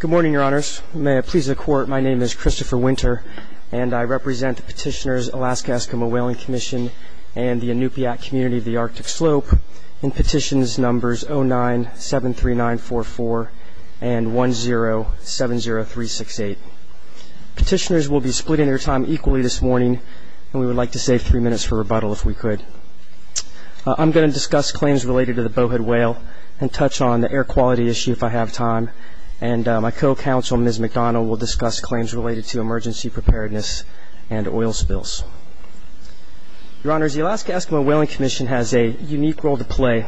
Good morning, Your Honors. May it please the Court, my name is Christopher Winter, and I represent the Petitioners, Alaska Eskimo Whaling Commission, and the Inupiat Community of the Arctic Slope in petitions numbers 09-73944 and 10-70368. Petitioners will be splitting their time equally this morning, and we would like to save three minutes for rebuttal if we could. I'm going to discuss claims related to the bowhead whale and touch on the air quality issue if I have time, and my co-counsel, Ms. McDonald, will discuss claims related to emergency preparedness and oil spills. Your Honors, the Alaska Eskimo Whaling Commission has a unique role to play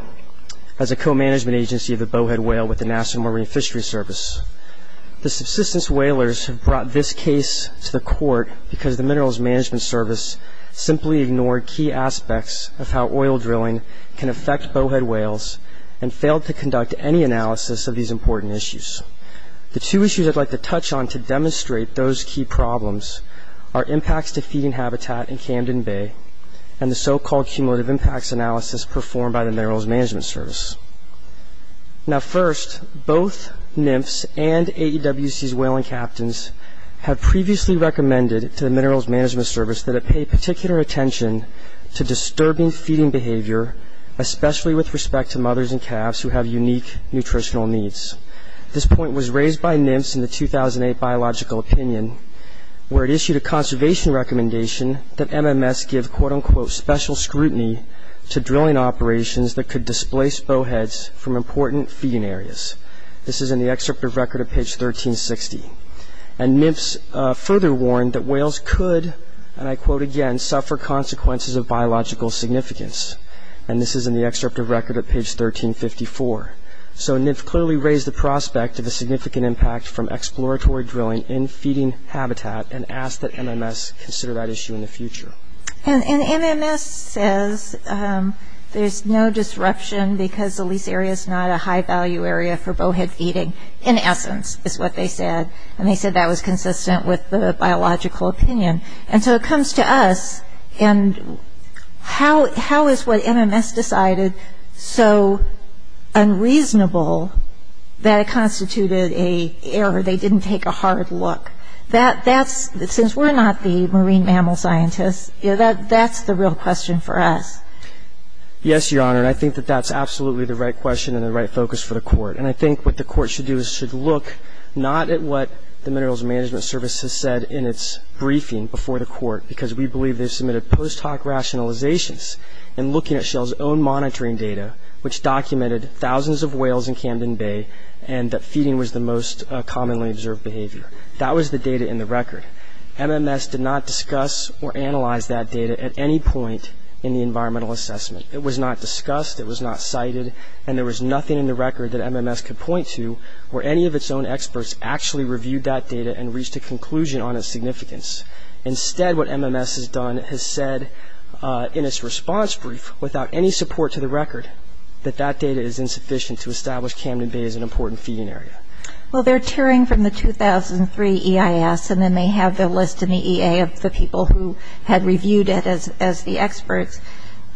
as a co-management agency of the bowhead whale with the National Marine Fisheries Service. The subsistence whalers have brought this case to the Court because the Minerals Management Service simply ignored key aspects of how oil drilling can affect bowhead whales and failed to conduct any analysis of these important issues. The two issues I'd like to touch on to demonstrate those key problems are impacts to feeding habitat in Camden Bay and the so-called cumulative impacts analysis performed by the Minerals Management Service. Now, first, both NMFS and AEWC's whaling captains have previously recommended to the Minerals Management Service that it pay particular attention to disturbing feeding behavior, especially with respect to mothers and calves who have unique nutritional needs. This point was raised by NMFS in the 2008 Biological Opinion where it issued a conservation recommendation that MMS give, quote-unquote, special scrutiny to drilling operations that could displace bowheads from important feeding areas. This is in the excerpt of record at page 1360. And NMFS further warned that whales could, and I quote again, suffer consequences of biological significance. And this is in the excerpt of record at page 1354. So NMFS clearly raised the prospect of a significant impact from exploratory drilling in feeding habitat and asked that MMS consider that issue in the future. And NMFS says there's no disruption because the lease area is not a high value area for bowhead feeding, in essence, is what they said. And they said that was consistent with the Biological Opinion. And so it comes to us, and how is what MMS decided so unreasonable that it constituted an error, they didn't take a hard look? That's, since we're not the marine mammal scientists, that's the real question for us. Yes, Your Honor. And I think that that's absolutely the right question and the right focus for the court. And I think what the court should do is should look not at what the Minerals Management Service has said in its briefing before the court, because we believe they've submitted post hoc rationalizations in looking at Shell's own monitoring data, which documented thousands of whales in Camden Bay and that feeding was the most commonly observed behavior. That was the data in the record. MMS did not discuss or analyze that data at any point in the environmental assessment. It was not discussed. It was not cited. And there was nothing in the record that MMS could point to where any of its own experts actually reviewed that data and reached a conclusion on its significance. Instead, what MMS has done, it has said in its response brief, without any support to the record, that that data is insufficient to establish Camden Bay as an important feeding area. Well, they're tearing from the 2003 EIS, and then they have the list in the EA of the people who had reviewed it as the experts.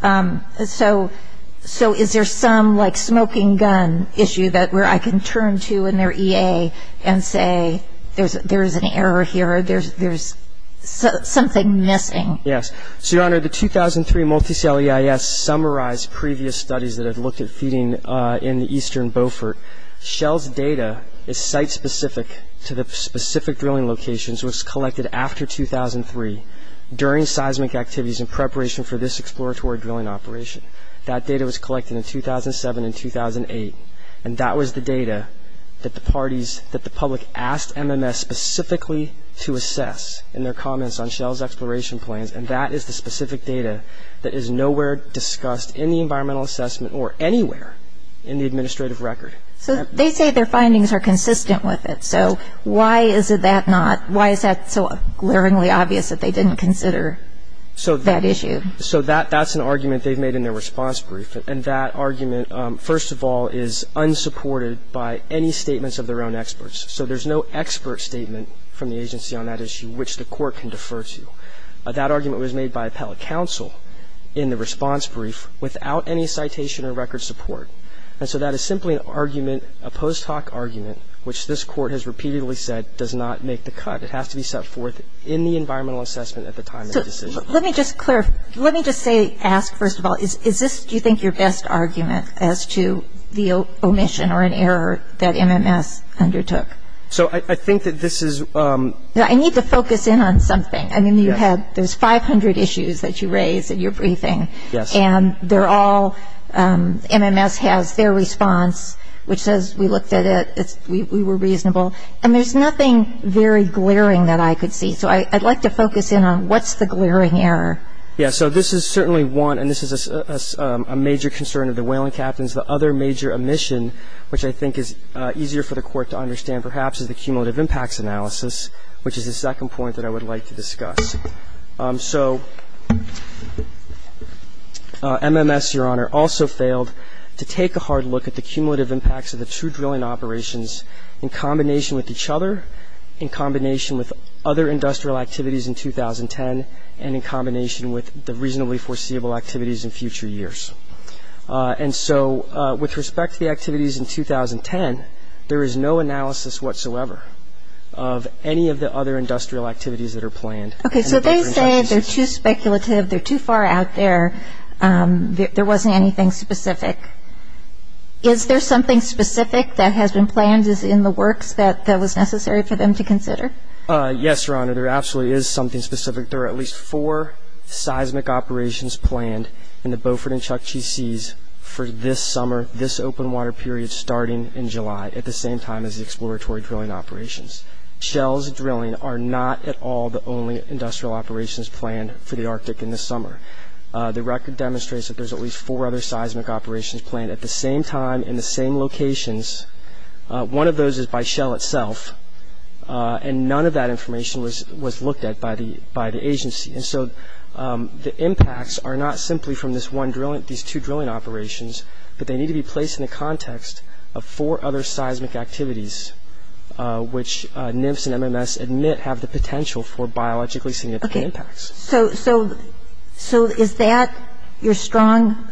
So is there some, like, smoking gun issue that where I can turn to in their EA and say there's an error here or there's something missing? Yes. So, Your Honor, the 2003 Multicell EIS summarized previous studies that had looked at feeding in the eastern Beaufort. Shell's data is site-specific to the specific drilling locations, which was collected after 2003 during seismic activities in preparation for this exploratory drilling operation. That data was collected in 2007 and 2008, and that was the data that the parties that the public asked MMS specifically to assess in their comments on Shell's exploration plans, and that is the specific data that is nowhere discussed in the environmental assessment or anywhere in the administrative record. So they say their findings are consistent with it. So why is it that not? Why is that so glaringly obvious that they didn't consider that issue? So that's an argument they've made in their response brief, and that argument, first of all, is unsupported by any statements of their own experts. So there's no expert statement from the agency on that issue which the court can defer to. That argument was made by appellate counsel in the response brief without any citation or record support. And so that is simply an argument, a post hoc argument, which this court has repeatedly said does not make the cut. It has to be set forth in the environmental assessment at the time of the decision. So let me just clarify. Let me just say, ask, first of all, is this, do you think, your best argument as to the omission or an error that MMS undertook? So I think that this is ‑‑ No, I need to focus in on something. I mean, you had, there's 500 issues that you raised in your briefing. Yes. And they're all, MMS has their response, which says we looked at it, we were reasonable. And there's nothing very glaring that I could see. So I'd like to focus in on what's the glaring error. Yes. So this is certainly one, and this is a major concern of the whaling captains. The other major omission, which I think is easier for the court to understand perhaps, is the cumulative impacts analysis, which is the second point that I would like to discuss. So MMS, Your Honor, also failed to take a hard look at the cumulative impacts of the two drilling operations in combination with each other, in combination with other industrial activities in 2010, and in combination with the reasonably foreseeable activities in future years. And so with respect to the activities in 2010, there is no analysis whatsoever of any of the other industrial activities that are planned. Okay. So they say they're too speculative, they're too far out there, there wasn't anything specific. Is there something specific that has been planned in the works that was necessary for them to consider? Yes, Your Honor, there absolutely is something specific. There are at least four seismic operations planned in the Beaufort and Chukchi Seas for this summer, this open water period starting in July, at the same time as the exploratory drilling operations. Shell's drilling are not at all the only industrial operations planned for the Arctic in the summer. The record demonstrates that there's at least four other seismic operations planned at the same time in the same locations. One of those is by Shell itself, and none of that information was looked at by the agency. And so the impacts are not simply from these two drilling operations, but they need to be placed in the context of four other seismic activities, which NIFS and MMS admit have the potential for biologically significant impacts. Okay. So is that your strong,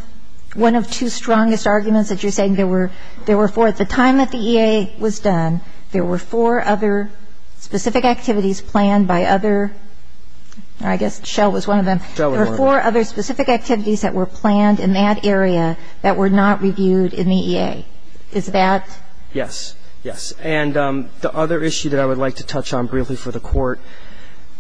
one of two strongest arguments that you're saying there were four? At the time that the EA was done, there were four other specific activities planned by other, or I guess Shell was one of them. Shell was one of them. There were four other specific activities that were planned in that area that were not reviewed in the EA. Is that? Yes. Yes. And the other issue that I would like to touch on briefly for the Court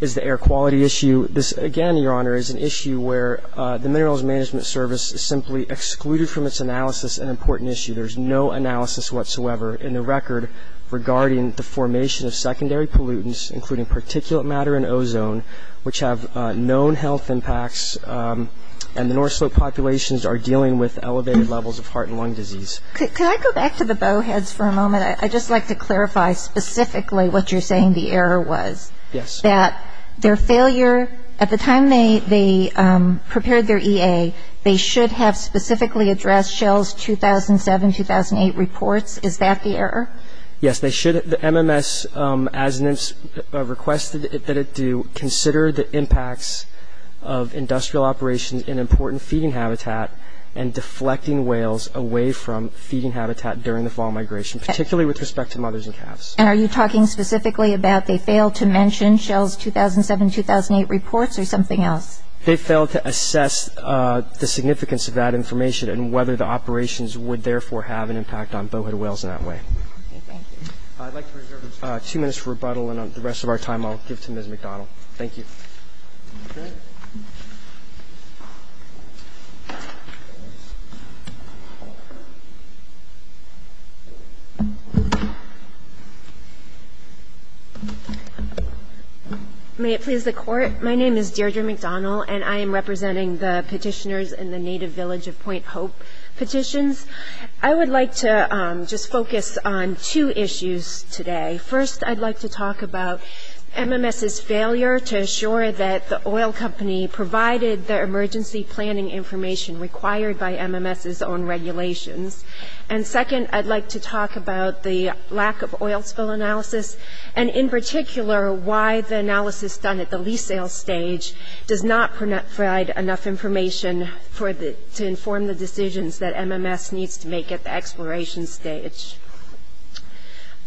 is the air quality issue. This, again, Your Honor, is an issue where the Minerals Management Service simply excluded from its analysis an important issue. There's no analysis whatsoever in the record regarding the formation of secondary pollutants, including particulate matter and ozone, which have known health impacts. And the North Slope populations are dealing with elevated levels of heart and lung disease. Could I go back to the bowheads for a moment? I'd just like to clarify specifically what you're saying the error was. Yes. That their failure, at the time they prepared their EA, they should have specifically addressed Shell's 2007-2008 reports. Is that the error? Yes. The MMS, as requested that it do, consider the impacts of industrial operations in important feeding habitat and deflecting whales away from feeding habitat during the fall migration, particularly with respect to mothers and calves. And are you talking specifically about they failed to mention Shell's 2007-2008 reports or something else? They failed to assess the significance of that information and whether the operations would, therefore, have an impact on bowhead whales in that way. Thank you. I'd like to reserve two minutes for rebuttal, and the rest of our time I'll give to Ms. McDonald. Thank you. May it please the Court, my name is Deirdre McDonald, and I am representing the petitioners in the native village of Point Hope Petitions. I would like to just focus on two issues today. First, I'd like to talk about MMS's failure to assure that the oil company provided the emergency planning information required by MMS's own regulations. And second, I'd like to talk about the lack of oil spill analysis, and in particular why the analysis done at the lease sale stage does not provide enough information to inform the decisions that MMS needs to make at the exploration stage.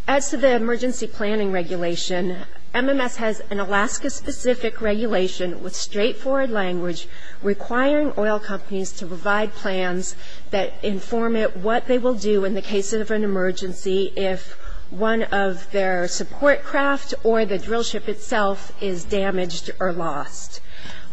As to the emergency planning regulation, MMS has an Alaska-specific regulation with straightforward language requiring oil companies to provide plans that inform it what they will do in the case of an emergency if one of their support craft or the drill ship itself is damaged or lost.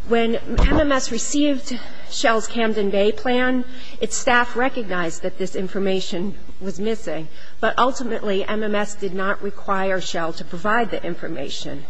When MMS received Shell's Camden Bay plan, its staff recognized that this information was missing, but ultimately MMS did not require Shell to provide the information.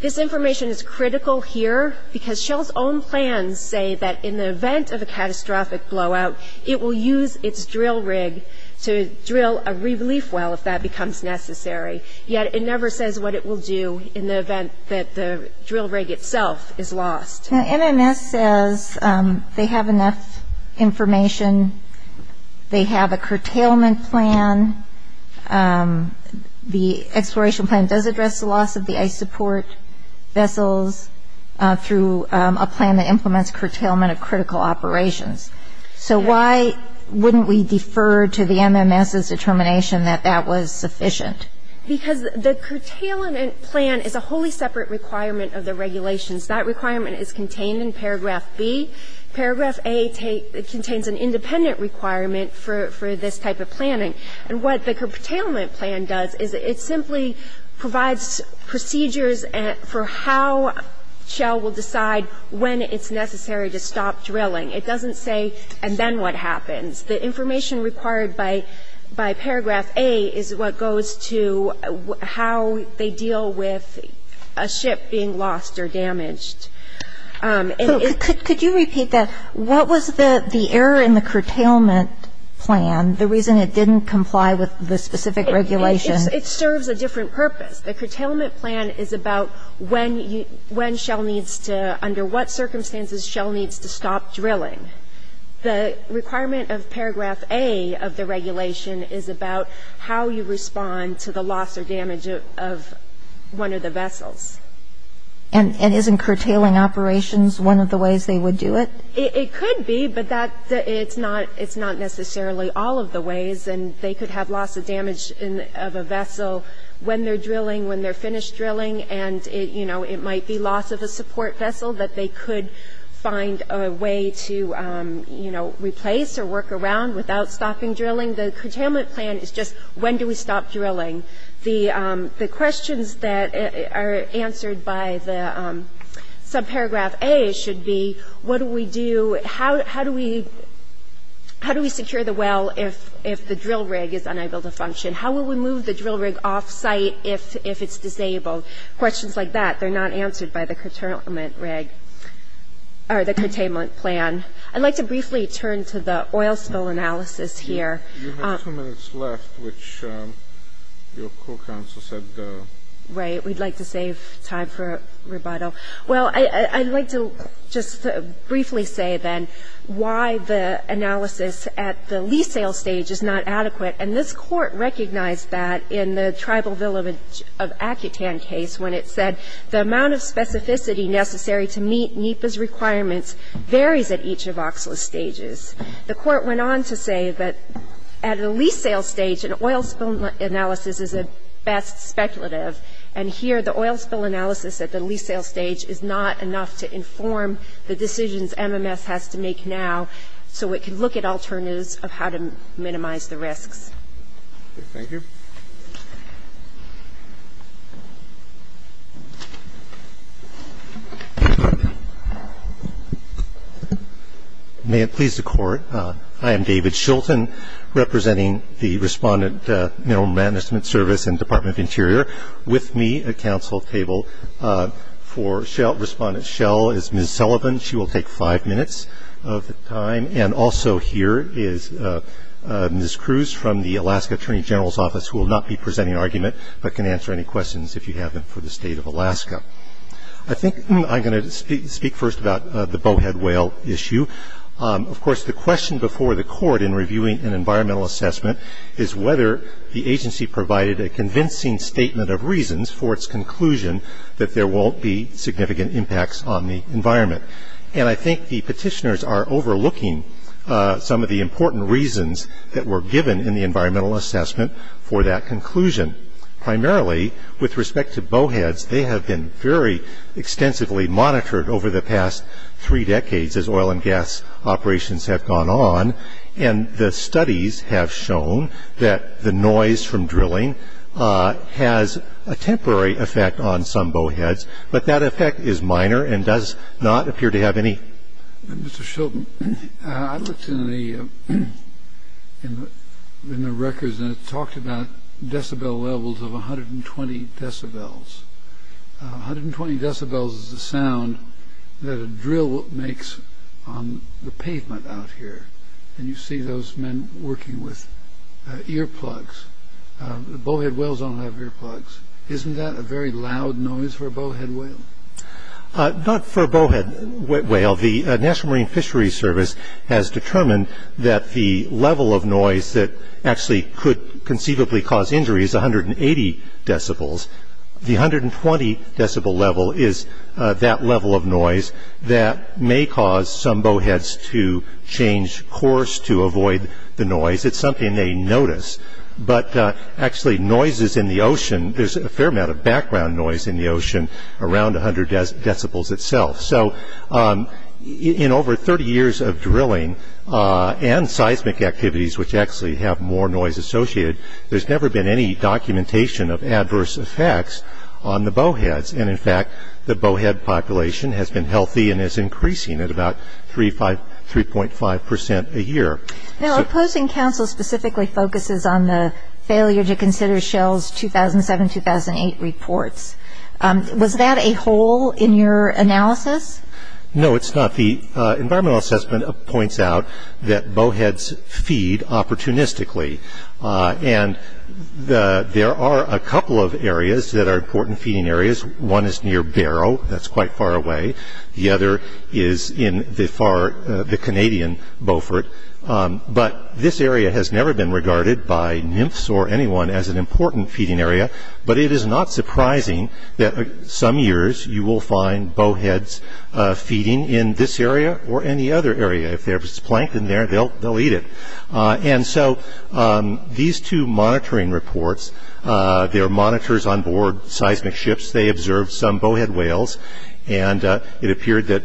This information is critical here because Shell's own plans say that in the event of a catastrophic blowout, it will use its drill rig to drill a relief well if that becomes necessary, yet it never says what it will do in the event that the drill rig itself is lost. Now, MMS says they have enough information. They have a curtailment plan. The exploration plan does address the loss of the ice support vessels through a plan that implements curtailment of critical operations. So why wouldn't we defer to the MMS's determination that that was sufficient? Because the curtailment plan is a wholly separate requirement of the regulations. That requirement is contained in paragraph B. Paragraph A contains an independent requirement for this type of planning. And what the curtailment plan does is it simply provides procedures for how Shell will decide when it's necessary to stop drilling. It doesn't say and then what happens. The information required by paragraph A is what goes to how they deal with a ship being lost or damaged. And it's the reason it didn't comply with the specific regulation. It serves a different purpose. The curtailment plan is about when Shell needs to, under what circumstances Shell needs to stop drilling. The requirement of paragraph A of the regulation is about how you respond to the loss or damage of one of the vessels. And isn't curtailing operations one of the ways they would do it? It could be, but it's not necessarily all of the ways. And they could have loss of damage of a vessel when they're drilling, when they're finished drilling. And, you know, it might be loss of a support vessel that they could find a way to, you know, replace or work around without stopping drilling. The curtailment plan is just when do we stop drilling. The questions that are answered by the subparagraph A should be what do we do? How do we secure the well if the drill rig is unable to function? How will we move the drill rig off site if it's disabled? Questions like that, they're not answered by the curtailment rig or the curtailment plan. I'd like to briefly turn to the oil spill analysis here. You have two minutes left, which your court counsel said. Right. We'd like to save time for rebuttal. Well, I'd like to just briefly say then why the analysis at the lease sale stage is not adequate. And this court recognized that in the Tribal Village of Accutan case when it said the amount of specificity necessary to meet NEPA's requirements varies at each of OCSLA's stages. The court went on to say that at a lease sale stage an oil spill analysis is at best speculative. And here the oil spill analysis at the lease sale stage is not enough to inform the decisions MMS has to make now so it can look at alternatives of how to minimize the risks. Thank you. May it please the Court, I am David Shilton, representing the Respondent Mineral Management Service and Department of Interior. With me at counsel table for Respondent Schell is Ms. Sullivan. She will take five minutes of the time. And also here is Ms. Cruz from the Alaska Attorney General's Office who will not be presenting an argument but can answer any questions if you have them for the State of Alaska. I think I'm going to speak first about the bowhead whale issue. Of course, the question before the court in reviewing an environmental assessment is whether the agency provided a convincing statement of reasons for its conclusion that there won't be significant impacts on the environment. And I think the petitioners are overlooking some of the important reasons that were given in the environmental assessment for that conclusion. Primarily, with respect to bowheads, they have been very extensively monitored over the past three decades as oil and gas operations have gone on. And the studies have shown that the noise from drilling has a temporary effect on some bowheads, but that effect is minor and does not appear to have any. Mr. Shilton, I looked in the records and it talked about decibel levels of 120 decibels. 120 decibels is the sound that a drill makes on the pavement out here. And you see those men working with earplugs. Bowhead whales don't have earplugs. Isn't that a very loud noise for a bowhead whale? Not for a bowhead whale. The National Marine Fisheries Service has determined that the level of noise that actually could conceivably cause injury is 180 decibels. The 120 decibel level is that level of noise that may cause some bowheads to change course to avoid the noise. It's something they notice. But actually, noises in the ocean, there's a fair amount of background noise in the ocean around 100 decibels itself. So in over 30 years of drilling and seismic activities, which actually have more noise associated, there's never been any documentation of adverse effects on the bowheads. And, in fact, the bowhead population has been healthy and is increasing at about 3.5 percent a year. Now, opposing counsel specifically focuses on the failure to consider Shell's 2007-2008 reports. Was that a hole in your analysis? No, it's not. The environmental assessment points out that bowheads feed opportunistically. And there are a couple of areas that are important feeding areas. One is near Barrow. That's quite far away. The other is in the far, the Canadian Beaufort. But this area has never been regarded by nymphs or anyone as an important feeding area. But it is not surprising that some years you will find bowheads feeding in this area or any other area. If there's plankton there, they'll eat it. And so these two monitoring reports, they're monitors onboard seismic ships. They observed some bowhead whales, and it appeared that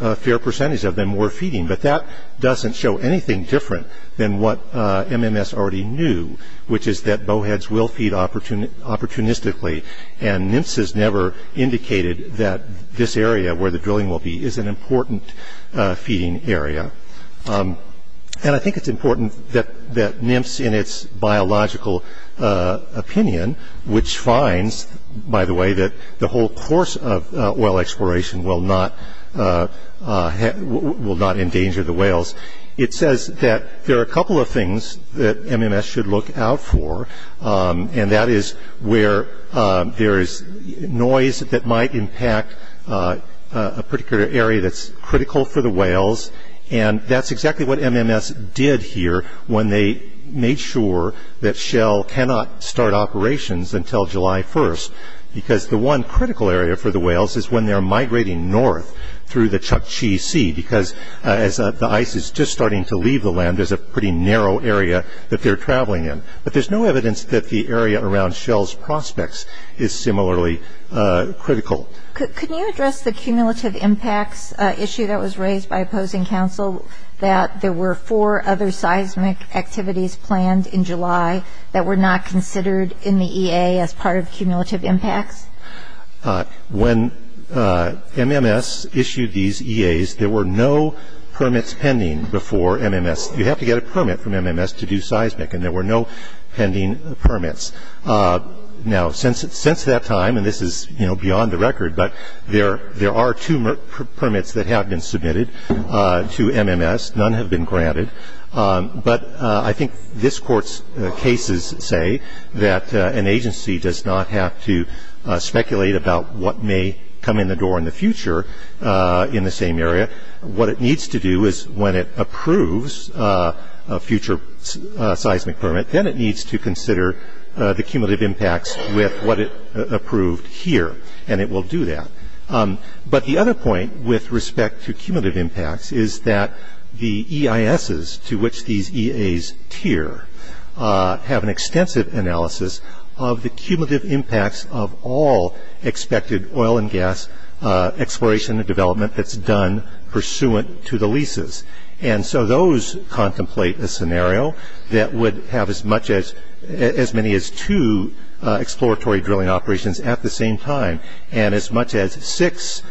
a fair percentage of them were feeding. But that doesn't show anything different than what MMS already knew, which is that bowheads will feed opportunistically. And nymphs has never indicated that this area where the drilling will be is an important feeding area. And I think it's important that nymphs in its biological opinion, which finds, by the way, that the whole course of oil exploration will not endanger the whales, it says that there are a couple of things that MMS should look out for, and that is where there is noise that might impact a particular area that's critical for the whales. And that's exactly what MMS did here when they made sure that Shell cannot start operations until July 1st, because the one critical area for the whales is when they're migrating north through the Chukchi Sea, because as the ice is just starting to leave the land, there's a pretty narrow area that they're traveling in. But there's no evidence that the area around Shell's prospects is similarly critical. Could you address the cumulative impacts issue that was raised by opposing counsel, that there were four other seismic activities planned in July that were not considered in the EA as part of cumulative impacts? When MMS issued these EAs, there were no permits pending before MMS. You have to get a permit from MMS to do seismic, and there were no pending permits. Now, since that time, and this is, you know, beyond the record, but there are two permits that have been submitted to MMS. None have been granted. But I think this Court's cases say that an agency does not have to speculate about what may come in the door in the future in the same area. What it needs to do is when it approves a future seismic permit, then it needs to consider the cumulative impacts with what it approved here, and it will do that. But the other point with respect to cumulative impacts is that the EISs, to which these EAs tier, have an extensive analysis of the cumulative impacts of all expected oil and gas exploration and development that's done pursuant to the leases. And so those contemplate a scenario that would have as many as two exploratory drilling operations at the same time and as much as six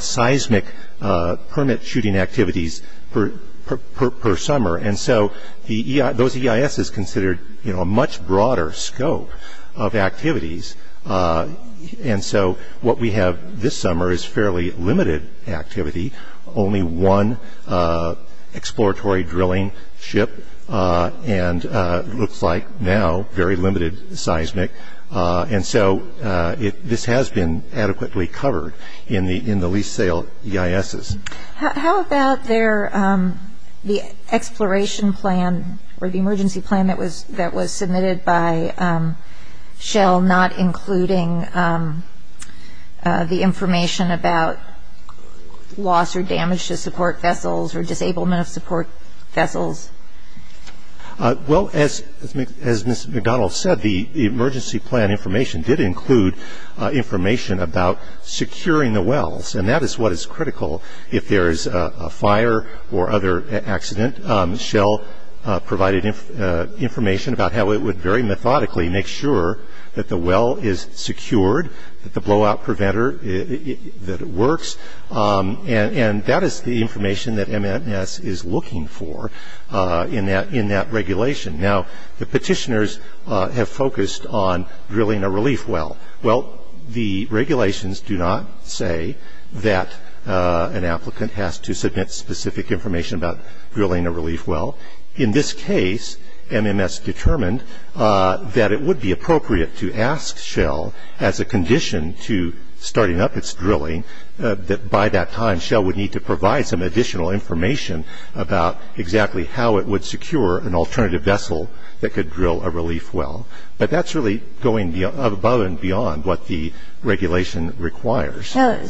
seismic permit shooting activities per summer. And so those EISs consider, you know, a much broader scope of activities. And so what we have this summer is fairly limited activity, only one exploratory drilling ship, and it looks like now very limited seismic. And so this has been adequately covered in the lease sale EISs. How about the exploration plan or the emergency plan that was submitted by Shell not including the information about loss or damage to support vessels or disablement of support vessels? Well, as Ms. McDonald said, the emergency plan information did include information about securing the wells, and that is what is critical if there is a fire or other accident. Shell provided information about how it would very methodically make sure that the well is secured, that the blowout preventer, that it works, and that is the information that MMS is looking for in that regulation. Now, the petitioners have focused on drilling a relief well. Well, the regulations do not say that an applicant has to submit specific information about drilling a relief well. In this case, MMS determined that it would be appropriate to ask Shell as a condition to starting up its drilling, that by that time Shell would need to provide some additional information about exactly how it would secure an alternative vessel that could drill a relief well. But that is really going above and beyond what the regulation requires. Now,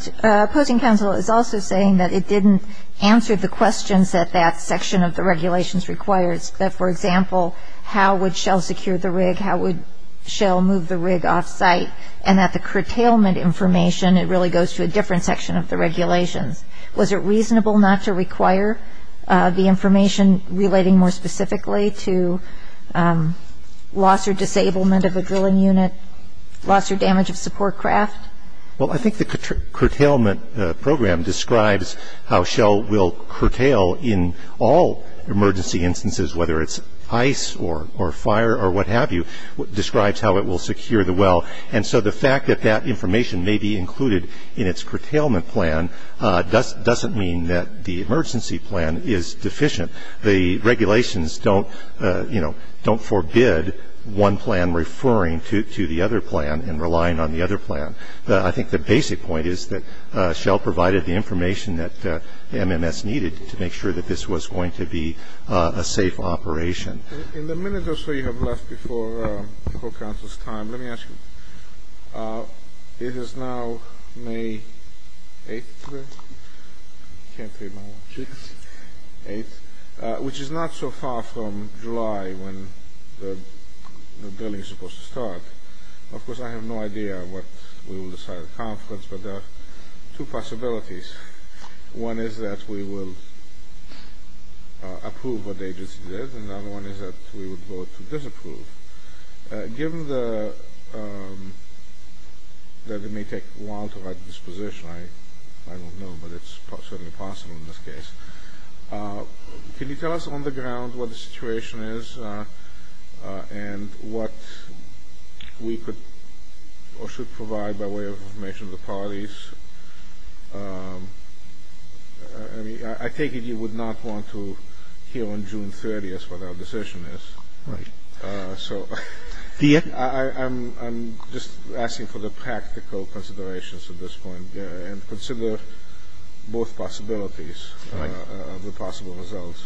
opposing counsel is also saying that it didn't answer the questions that that section of the regulations requires, that, for example, how would Shell secure the rig, how would Shell move the rig off-site, and that the curtailment information, it really goes to a different section of the regulations. Was it reasonable not to require the information relating more specifically to loss or disablement of a drilling unit, loss or damage of support craft? Well, I think the curtailment program describes how Shell will curtail in all emergency instances, whether it's ice or fire or what have you, describes how it will secure the well. And so the fact that that information may be included in its curtailment plan doesn't mean that the emergency plan is deficient. The regulations don't, you know, don't forbid one plan referring to the other plan and relying on the other plan. But I think the basic point is that Shell provided the information that MMS needed to make sure that this was going to be a safe operation. In the minute or so you have left before the co-council's time, let me ask you. It is now May 8th, which is not so far from July when the drilling is supposed to start. Of course, I have no idea what we will decide at the conference, but there are two possibilities. One is that we will approve what the agency did, and the other one is that we would vote to disapprove. Given that it may take a while to write this position, I don't know, but it's certainly possible in this case. Can you tell us on the ground what the situation is and what we could or should provide by way of information to the parties? I mean, I take it you would not want to hear on June 30th what our decision is. Right. So I'm just asking for the practical considerations at this point and consider both possibilities. Right. The possible results.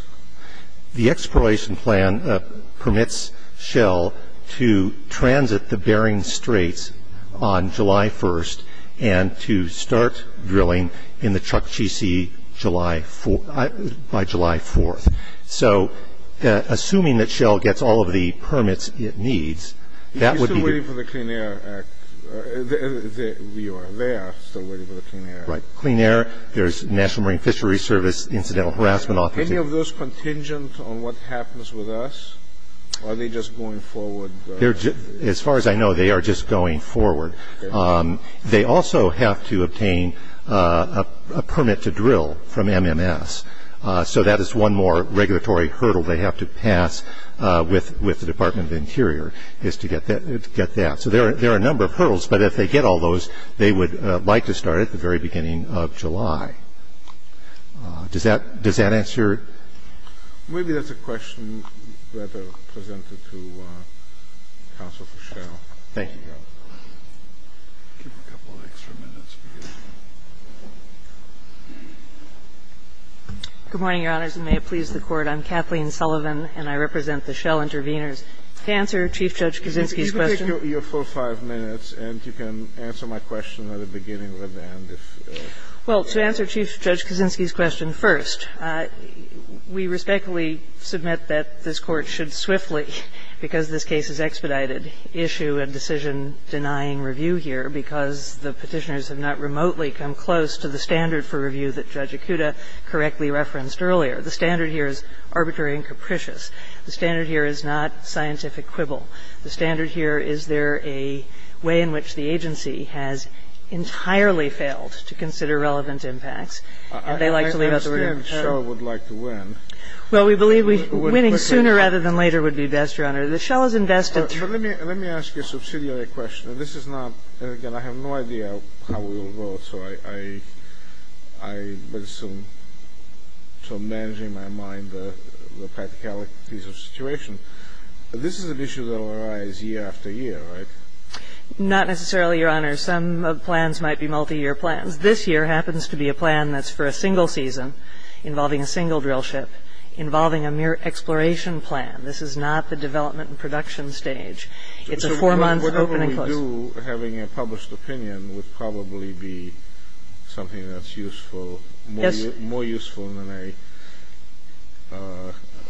The exploration plan permits Shell to transit the Bering Straits on July 1st and to start drilling in the Chukchi Sea by July 4th. So assuming that Shell gets all of the permits it needs, that would be the- Are you still waiting for the Clean Air Act? You are there, still waiting for the Clean Air Act. Right. There's Clean Air, there's National Marine Fisheries Service, Incidental Harassment Office. Any of those contingent on what happens with us? Are they just going forward? As far as I know, they are just going forward. They also have to obtain a permit to drill from MMS. So that is one more regulatory hurdle they have to pass with the Department of Interior is to get that. So there are a number of hurdles, but if they get all those, they would like to start at the very beginning of July. Does that answer? Maybe that's a question better presented to counsel for Shell. Thank you, Your Honor. I'll give you a couple of extra minutes. Good morning, Your Honors, and may it please the Court. I'm Kathleen Sullivan, and I represent the Shell Intervenors. To answer Chief Judge Kaczynski's question. You can take your full five minutes, and you can answer my question at the beginning or at the end if you want. Well, to answer Chief Judge Kaczynski's question first, we respectfully submit that this Court should swiftly, because this case is expedited, issue a decision denying review here because the Petitioners have not remotely come close to the standard for review that Judge Akuta correctly referenced earlier. The standard here is arbitrary and capricious. The standard here is not scientific quibble. The standard here is there a way in which the agency has entirely failed to consider relevant impacts, and they like to leave it up to review. I understand that Shell would like to win. Well, we believe winning sooner rather than later would be best, Your Honor. The Shell has invested. But let me ask you a subsidiary question. This is not, and again, I have no idea how we will vote. So I'm managing my mind the practicalities of the situation. This is an issue that will arise year after year, right? Not necessarily, Your Honor. Some plans might be multiyear plans. This year happens to be a plan that's for a single season involving a single drillship, involving a mere exploration plan. This is not the development and production stage. It's a four-month open and close. And you, having a published opinion, would probably be something that's useful, more useful than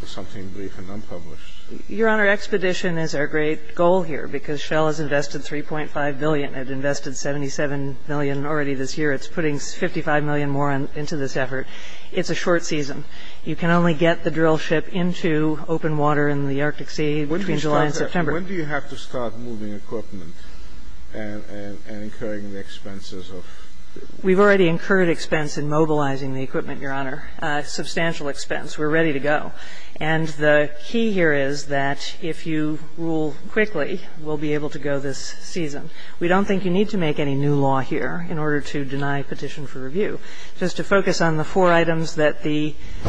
something brief and unpublished. Your Honor, expedition is our great goal here because Shell has invested $3.5 billion. It invested $77 million already this year. It's putting $55 million more into this effort. It's a short season. You can only get the drillship into open water in the Arctic Sea between July and September. When do you have to start moving equipment and incurring the expenses of? We've already incurred expense in mobilizing the equipment, Your Honor. Substantial expense. We're ready to go. And the key here is that if you rule quickly, we'll be able to go this season. We don't think you need to make any new law here in order to deny petition for review. Just to focus on the four items that the —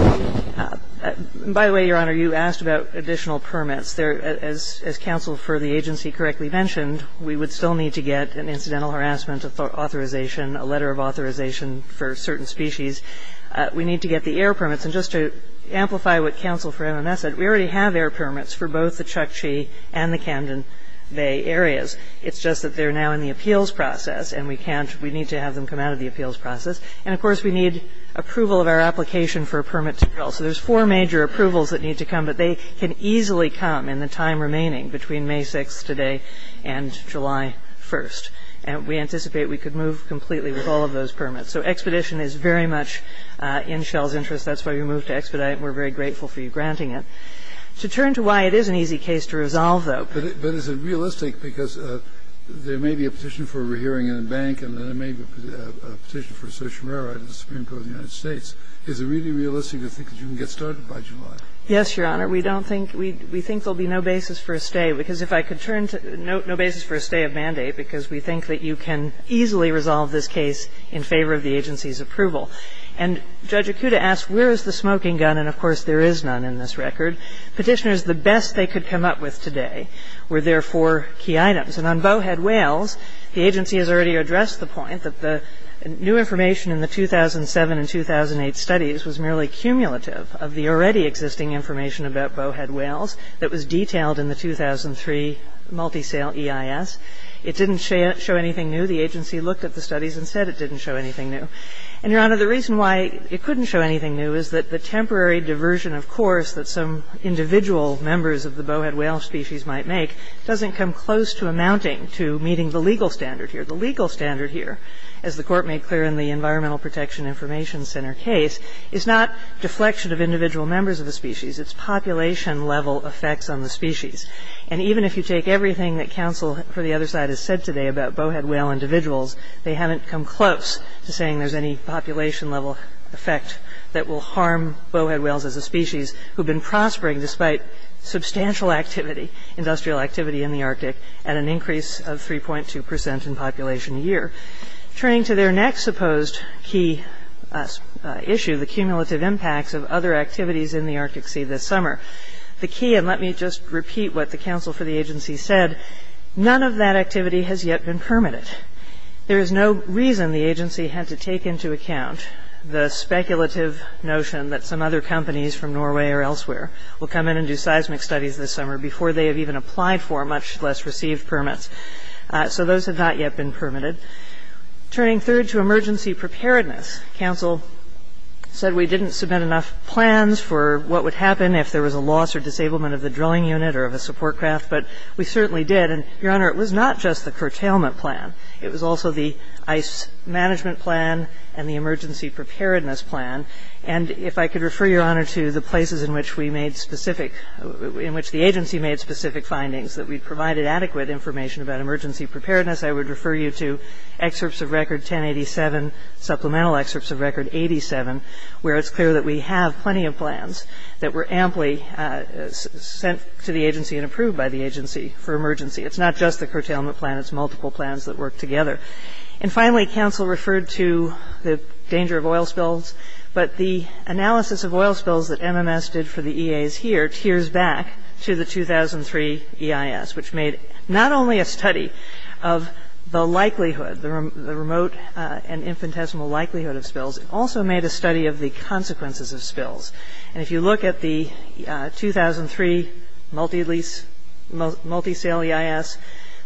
by the way, Your Honor, you asked about additional permits. As counsel for the agency correctly mentioned, we would still need to get an incidental harassment authorization, a letter of authorization for certain species. We need to get the air permits. And just to amplify what counsel for MMS said, we already have air permits for both the Chukchi and the Camden Bay areas. It's just that they're now in the appeals process, and we need to have them come out of the appeals process. And, of course, we need approval of our application for a permit to drill. So there's four major approvals that need to come, but they can easily come in the time remaining between May 6th today and July 1st. And we anticipate we could move completely with all of those permits. So expedition is very much in Shell's interest. That's why we moved to expedite, and we're very grateful for you granting it. To turn to why it is an easy case to resolve, though. But is it realistic, because there may be a petition for a re-hearing in a bank, and then there may be a petition for a social merit in the Supreme Court of the United States. Is it really realistic to think that you can get started by July? Yes, Your Honor. We don't think we we think there'll be no basis for a stay, because if I could turn to no basis for a stay of mandate, because we think that you can easily resolve this case in favor of the agency's approval. And Judge Akuta asked, where is the smoking gun? And, of course, there is none in this record. Petitioners, the best they could come up with today were their four key items. And on Bowhead, Wales, the agency has already addressed the point that the new information in the 2007 and 2008 studies was merely cumulative of the already existing information about Bowhead, Wales that was detailed in the 2003 multisale EIS. It didn't show anything new. The agency looked at the studies and said it didn't show anything new. And, Your Honor, the reason why it couldn't show anything new is that the temporary diversion, of course, that some individual members of the Bowhead, Wales species might make doesn't come close to amounting to meeting the legal standard here. The legal standard here, as the Court made clear in the Environmental Protection Information Center case, is not deflection of individual members of the species. It's population-level effects on the species. And even if you take everything that counsel for the other side has said today about Bowhead, Wales individuals, they haven't come close to saying there's any population-level effect that will harm Bowhead, Wales as a species who have been prospering despite substantial activity, industrial activity in the Arctic and an increase of 3.2 percent in population a year. Turning to their next supposed key issue, the cumulative impacts of other activities in the Arctic Sea this summer. The key, and let me just repeat what the counsel for the agency said, none of that activity has yet been permanent. There is no reason the agency had to take into account the speculative notion that some other companies from Norway or elsewhere will come in and do seismic studies this summer before they have even applied for, much less received permits. So those have not yet been permitted. Turning third to emergency preparedness. Counsel said we didn't submit enough plans for what would happen if there was a loss or disablement of the drilling unit or of a support craft, but we certainly did. And, Your Honor, it was not just the curtailment plan. It was also the ice management plan and the emergency preparedness plan. And if I could refer, Your Honor, to the places in which we made specific, in which the agency made specific findings that we provided adequate information about emergency preparedness, I would refer you to excerpts of record 1087, supplemental excerpts of record 87, where it's clear that we have plenty of plans that were amply sent to the agency and approved by the agency for emergency. It's not just the curtailment plan. It's multiple plans that work together. And finally, counsel referred to the danger of oil spills. But the analysis of oil spills that MMS did for the EAs here tears back to the 2003 EIS, which made not only a study of the likelihood, the remote and infinitesimal likelihood of spills, it also made a study of the consequences of spills. And if you look at the 2003 multi-lease, multi-sale EIS,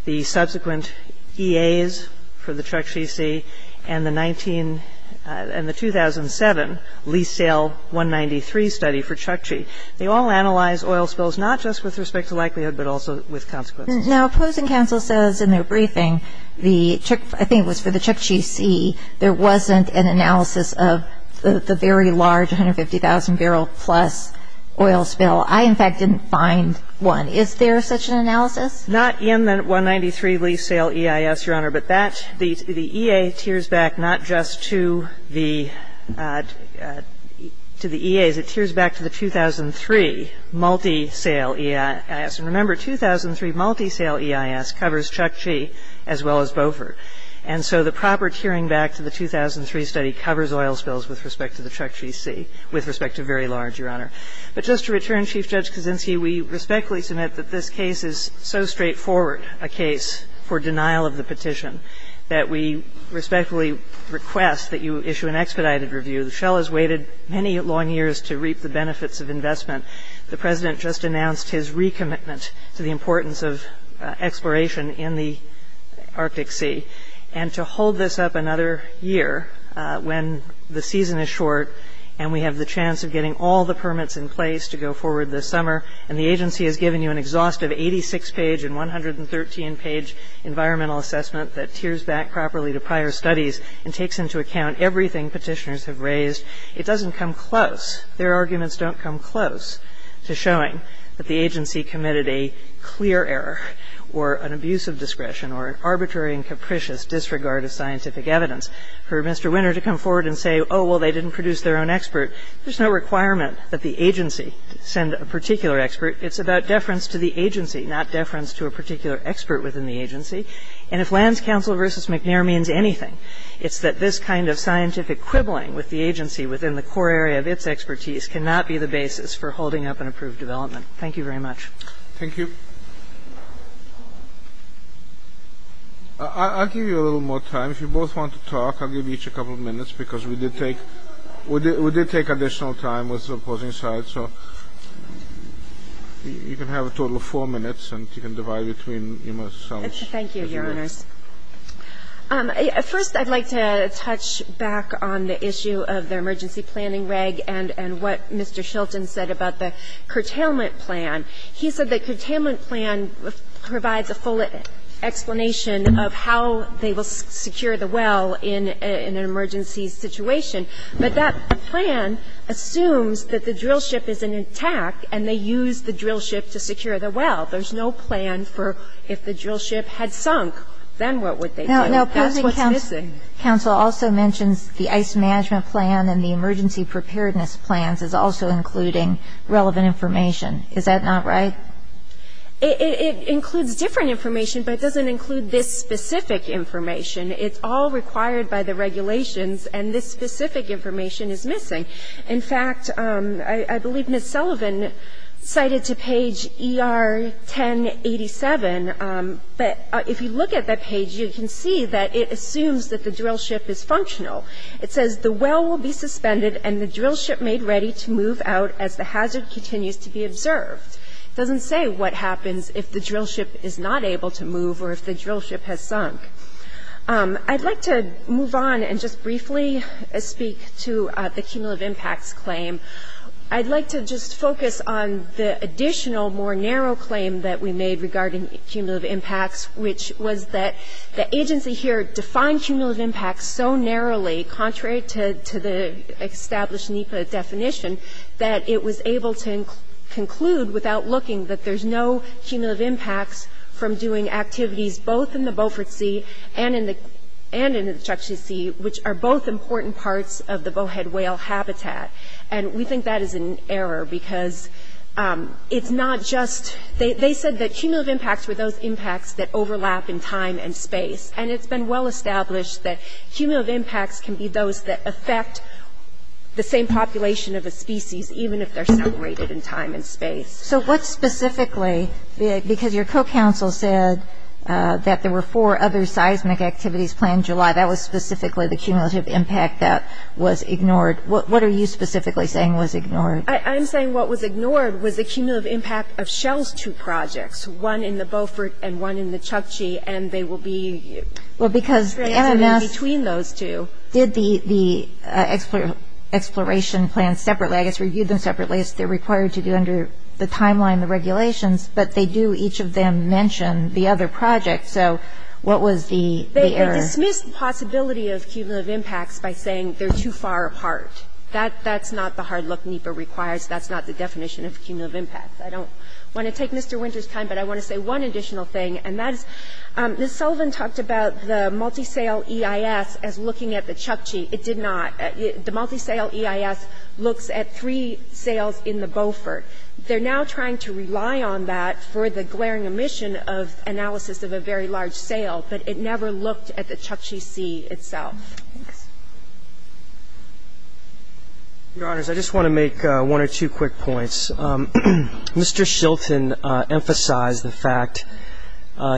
the subsequent EAs for the Chukchi Sea, and the 19, and the 2007 lease sale 193 study for Chukchi, they all analyzed oil spills not just with respect to likelihood, but also with consequences. Now, opposing counsel says in their briefing the, I think it was for the Chukchi Sea, there wasn't an analysis of the very large 150,000 barrel plus oil spill. I, in fact, didn't find one. Is there such an analysis? Not in the 193 lease sale EIS, Your Honor. But that, the EA tears back not just to the EAs. It tears back to the 2003 multi-sale EIS. And remember, 2003 multi-sale EIS covers Chukchi as well as Beaufort. And so the proper tearing back to the 2003 study covers oil spills with respect to the Chukchi Sea, with respect to very large, Your Honor. But just to return, Chief Judge Kaczynski, we respectfully submit that this case is so straightforward a case for denial of the petition that we respectfully request that you issue an expedited review. The shell has waited many long years to reap the benefits of investment. The President just announced his recommitment to the importance of exploration in the Arctic Sea. And to hold this up another year when the season is short and we have the chance of getting all the permits in place to go forward this summer, and the agency has given you an exhaustive 86-page and 113-page environmental assessment that tears back properly to prior studies and takes into account everything petitioners have raised, it doesn't come close. Their arguments don't come close to showing that the agency committed a clear error or an abuse of discretion or an arbitrary and capricious disregard of scientific evidence. For Mr. Winner to come forward and say, oh, well, they didn't produce their own expert, there's no requirement that the agency send a particular expert. It's about deference to the agency, not deference to a particular expert within the agency. And if Lands Council v. McNair means anything, it's that this kind of scientific quibbling with the agency within the core area of its expertise cannot be the basis for holding up an approved development. Thank you very much. Thank you. I'll give you a little more time. If you both want to talk, I'll give each a couple of minutes, because we did take additional time with opposing sides. So you can have a total of four minutes, and you can divide between yourselves. Thank you, Your Honors. First, I'd like to touch back on the issue of the emergency planning reg and what Mr. Shelton said about the curtailment plan. He said the curtailment plan provides a full explanation of how they will secure the well in an emergency situation. But that plan assumes that the drill ship is intact, and they use the drill ship to secure the well. There's no plan for if the drill ship had sunk, then what would they do? That's what's missing. Now, opposing counsel also mentions the ice management plan and the emergency preparedness plans is also including relevant information. Is that not right? It includes different information, but it doesn't include this specific information. It's all required by the regulations, and this specific information is missing. In fact, I believe Ms. Sullivan cited to page ER-1087, but if you look at that page, you can see that it assumes that the drill ship is functional. It says, It doesn't say what happens if the drill ship is not able to move or if the drill ship has sunk. I'd like to move on and just briefly speak to the cumulative impacts claim. I'd like to just focus on the additional more narrow claim that we made regarding cumulative impacts, which was that the agency here defined cumulative impacts so narrowly, contrary to the established NEPA definition, that it was able to conclude without looking that there's no cumulative impacts from doing activities both in the Beaufort Sea and in the Chukchi Sea, which are both important parts of the bowhead whale habitat. And we think that is an error because it's not just they said that cumulative impacts were those impacts that overlap in time and space. And it's been well established that cumulative impacts can be those that affect the same population of a species, even if they're separated in time and space. So what specifically, because your co-counsel said that there were four other seismic activities planned in July, that was specifically the cumulative impact that was ignored. What are you specifically saying was ignored? I'm saying what was ignored was the cumulative impact of Shell's two projects, one in the Beaufort and one in the Chukchi, and they will be in between those two. Well, because the NMS did the exploration plan separately. I guess reviewed them separately, as they're required to do under the timeline and the regulations. But they do, each of them, mention the other project. So what was the error? They dismissed the possibility of cumulative impacts by saying they're too far apart. That's not the hard look NEPA requires. That's not the definition of cumulative impacts. I don't want to take Mr. Winter's time, but I want to say one additional thing, and that is Ms. Sullivan talked about the multisale EIS as looking at the Chukchi. It did not. The multisale EIS looks at three sales in the Beaufort. They're now trying to rely on that for the glaring omission of analysis of a very large sale, but it never looked at the Chukchi Sea itself. Thanks. Your Honors, I just want to make one or two quick points. Mr. Shilton emphasized the fact,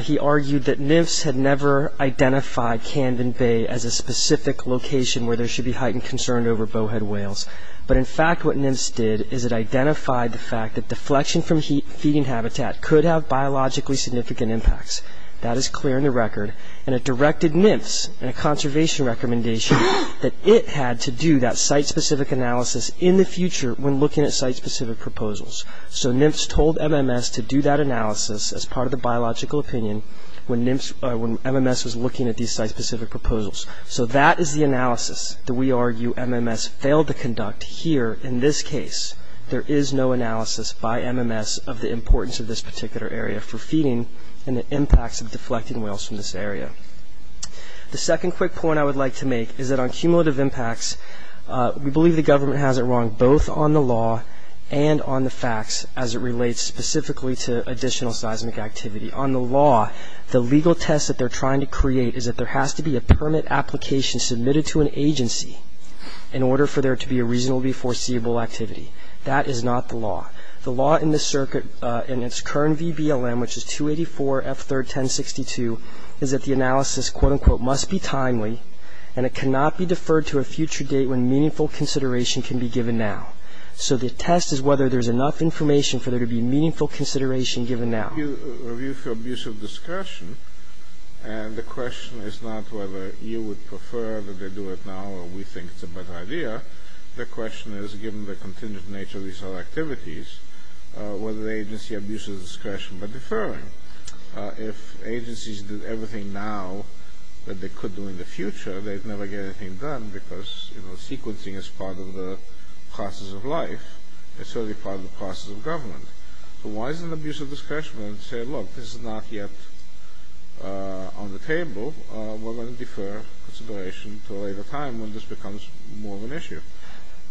he argued, that NIMFS had never identified Camden Bay as a specific location where there should be heightened concern over bowhead whales. But, in fact, what NIMFS did is it identified the fact that deflection from feeding habitat could have biologically significant impacts. That is clear in the record. And it directed NIMFS in a conservation recommendation that it had to do that site-specific analysis in the future when looking at site-specific proposals. So NIMFS told MMS to do that analysis as part of the biological opinion when NIMFS or when MMS was looking at these site-specific proposals. So that is the analysis that we argue MMS failed to conduct here in this case. There is no analysis by MMS of the importance of this particular area for feeding and the impacts of deflecting whales from this area. The second quick point I would like to make is that on cumulative impacts, we believe the government has it wrong both on the law and on the facts as it relates specifically to additional seismic activity. On the law, the legal test that they're trying to create is that there has to be a permit application submitted to an agency in order for there to be a reasonably foreseeable activity. That is not the law. The law in the circuit in its current VBLM, which is 284F31062, is that the analysis, quote, unquote, must be timely and it cannot be deferred to a future date when meaningful consideration can be given now. So the test is whether there's enough information for there to be meaningful consideration given now. The review for abuse of discretion, and the question is not whether you would prefer that they do it now or we think it's a bad idea. The question is, given the contingent nature of these activities, whether the agency abuses discretion by deferring. If agencies did everything now that they could do in the future, they'd never get anything done because, you know, sequencing is part of the process of life. It's certainly part of the process of government. So why is it an abuse of discretion to say, look, this is not yet on the table. We're going to defer consideration to a later time when this becomes more of an issue.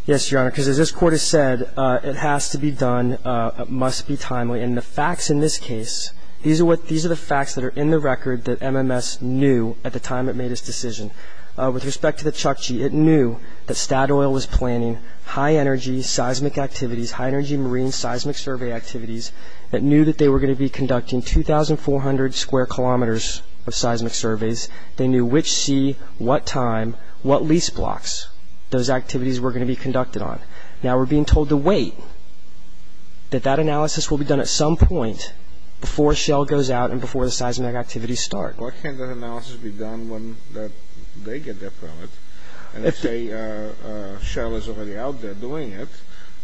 Yes, Your Honor, because as this Court has said, it has to be done. It must be timely. And the facts in this case, these are the facts that are in the record that MMS knew at the time it made its decision. With respect to the Chukchi, it knew that Statoil was planning high-energy seismic activities, high-energy marine seismic survey activities. It knew that they were going to be conducting 2,400 square kilometers of seismic surveys. They knew which sea, what time, what lease blocks those activities were going to be conducted on. Now we're being told to wait, that that analysis will be done at some point before Shell goes out and before the seismic activities start. Why can't that analysis be done when they get their permit? And they say Shell is already out there doing it,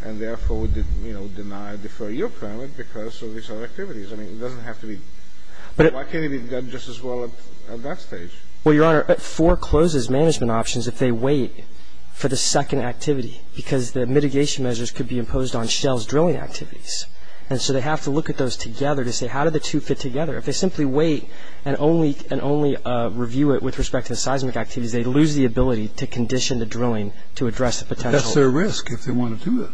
and therefore deny or defer your permit because of these other activities. I mean, it doesn't have to be. Why can't it be done just as well at that stage? Well, Your Honor, it forecloses management options if they wait for the second activity because the mitigation measures could be imposed on Shell's drilling activities. And so they have to look at those together to say, how do the two fit together? If they simply wait and only review it with respect to the seismic activities, they lose the ability to condition the drilling to address the potential. But that's their risk if they want to do that.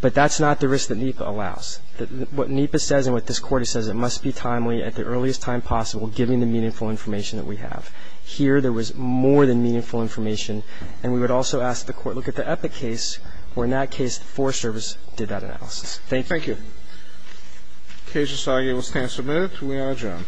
But that's not the risk that NEPA allows. What NEPA says and what this Court says, it must be timely at the earliest time possible giving the meaningful information that we have. Here there was more than meaningful information, and we would also ask the Court, look at the Epic case where in that case the Forest Service did that analysis. Thank you. Thank you. The case is argued and will stand submitted. We are adjourned.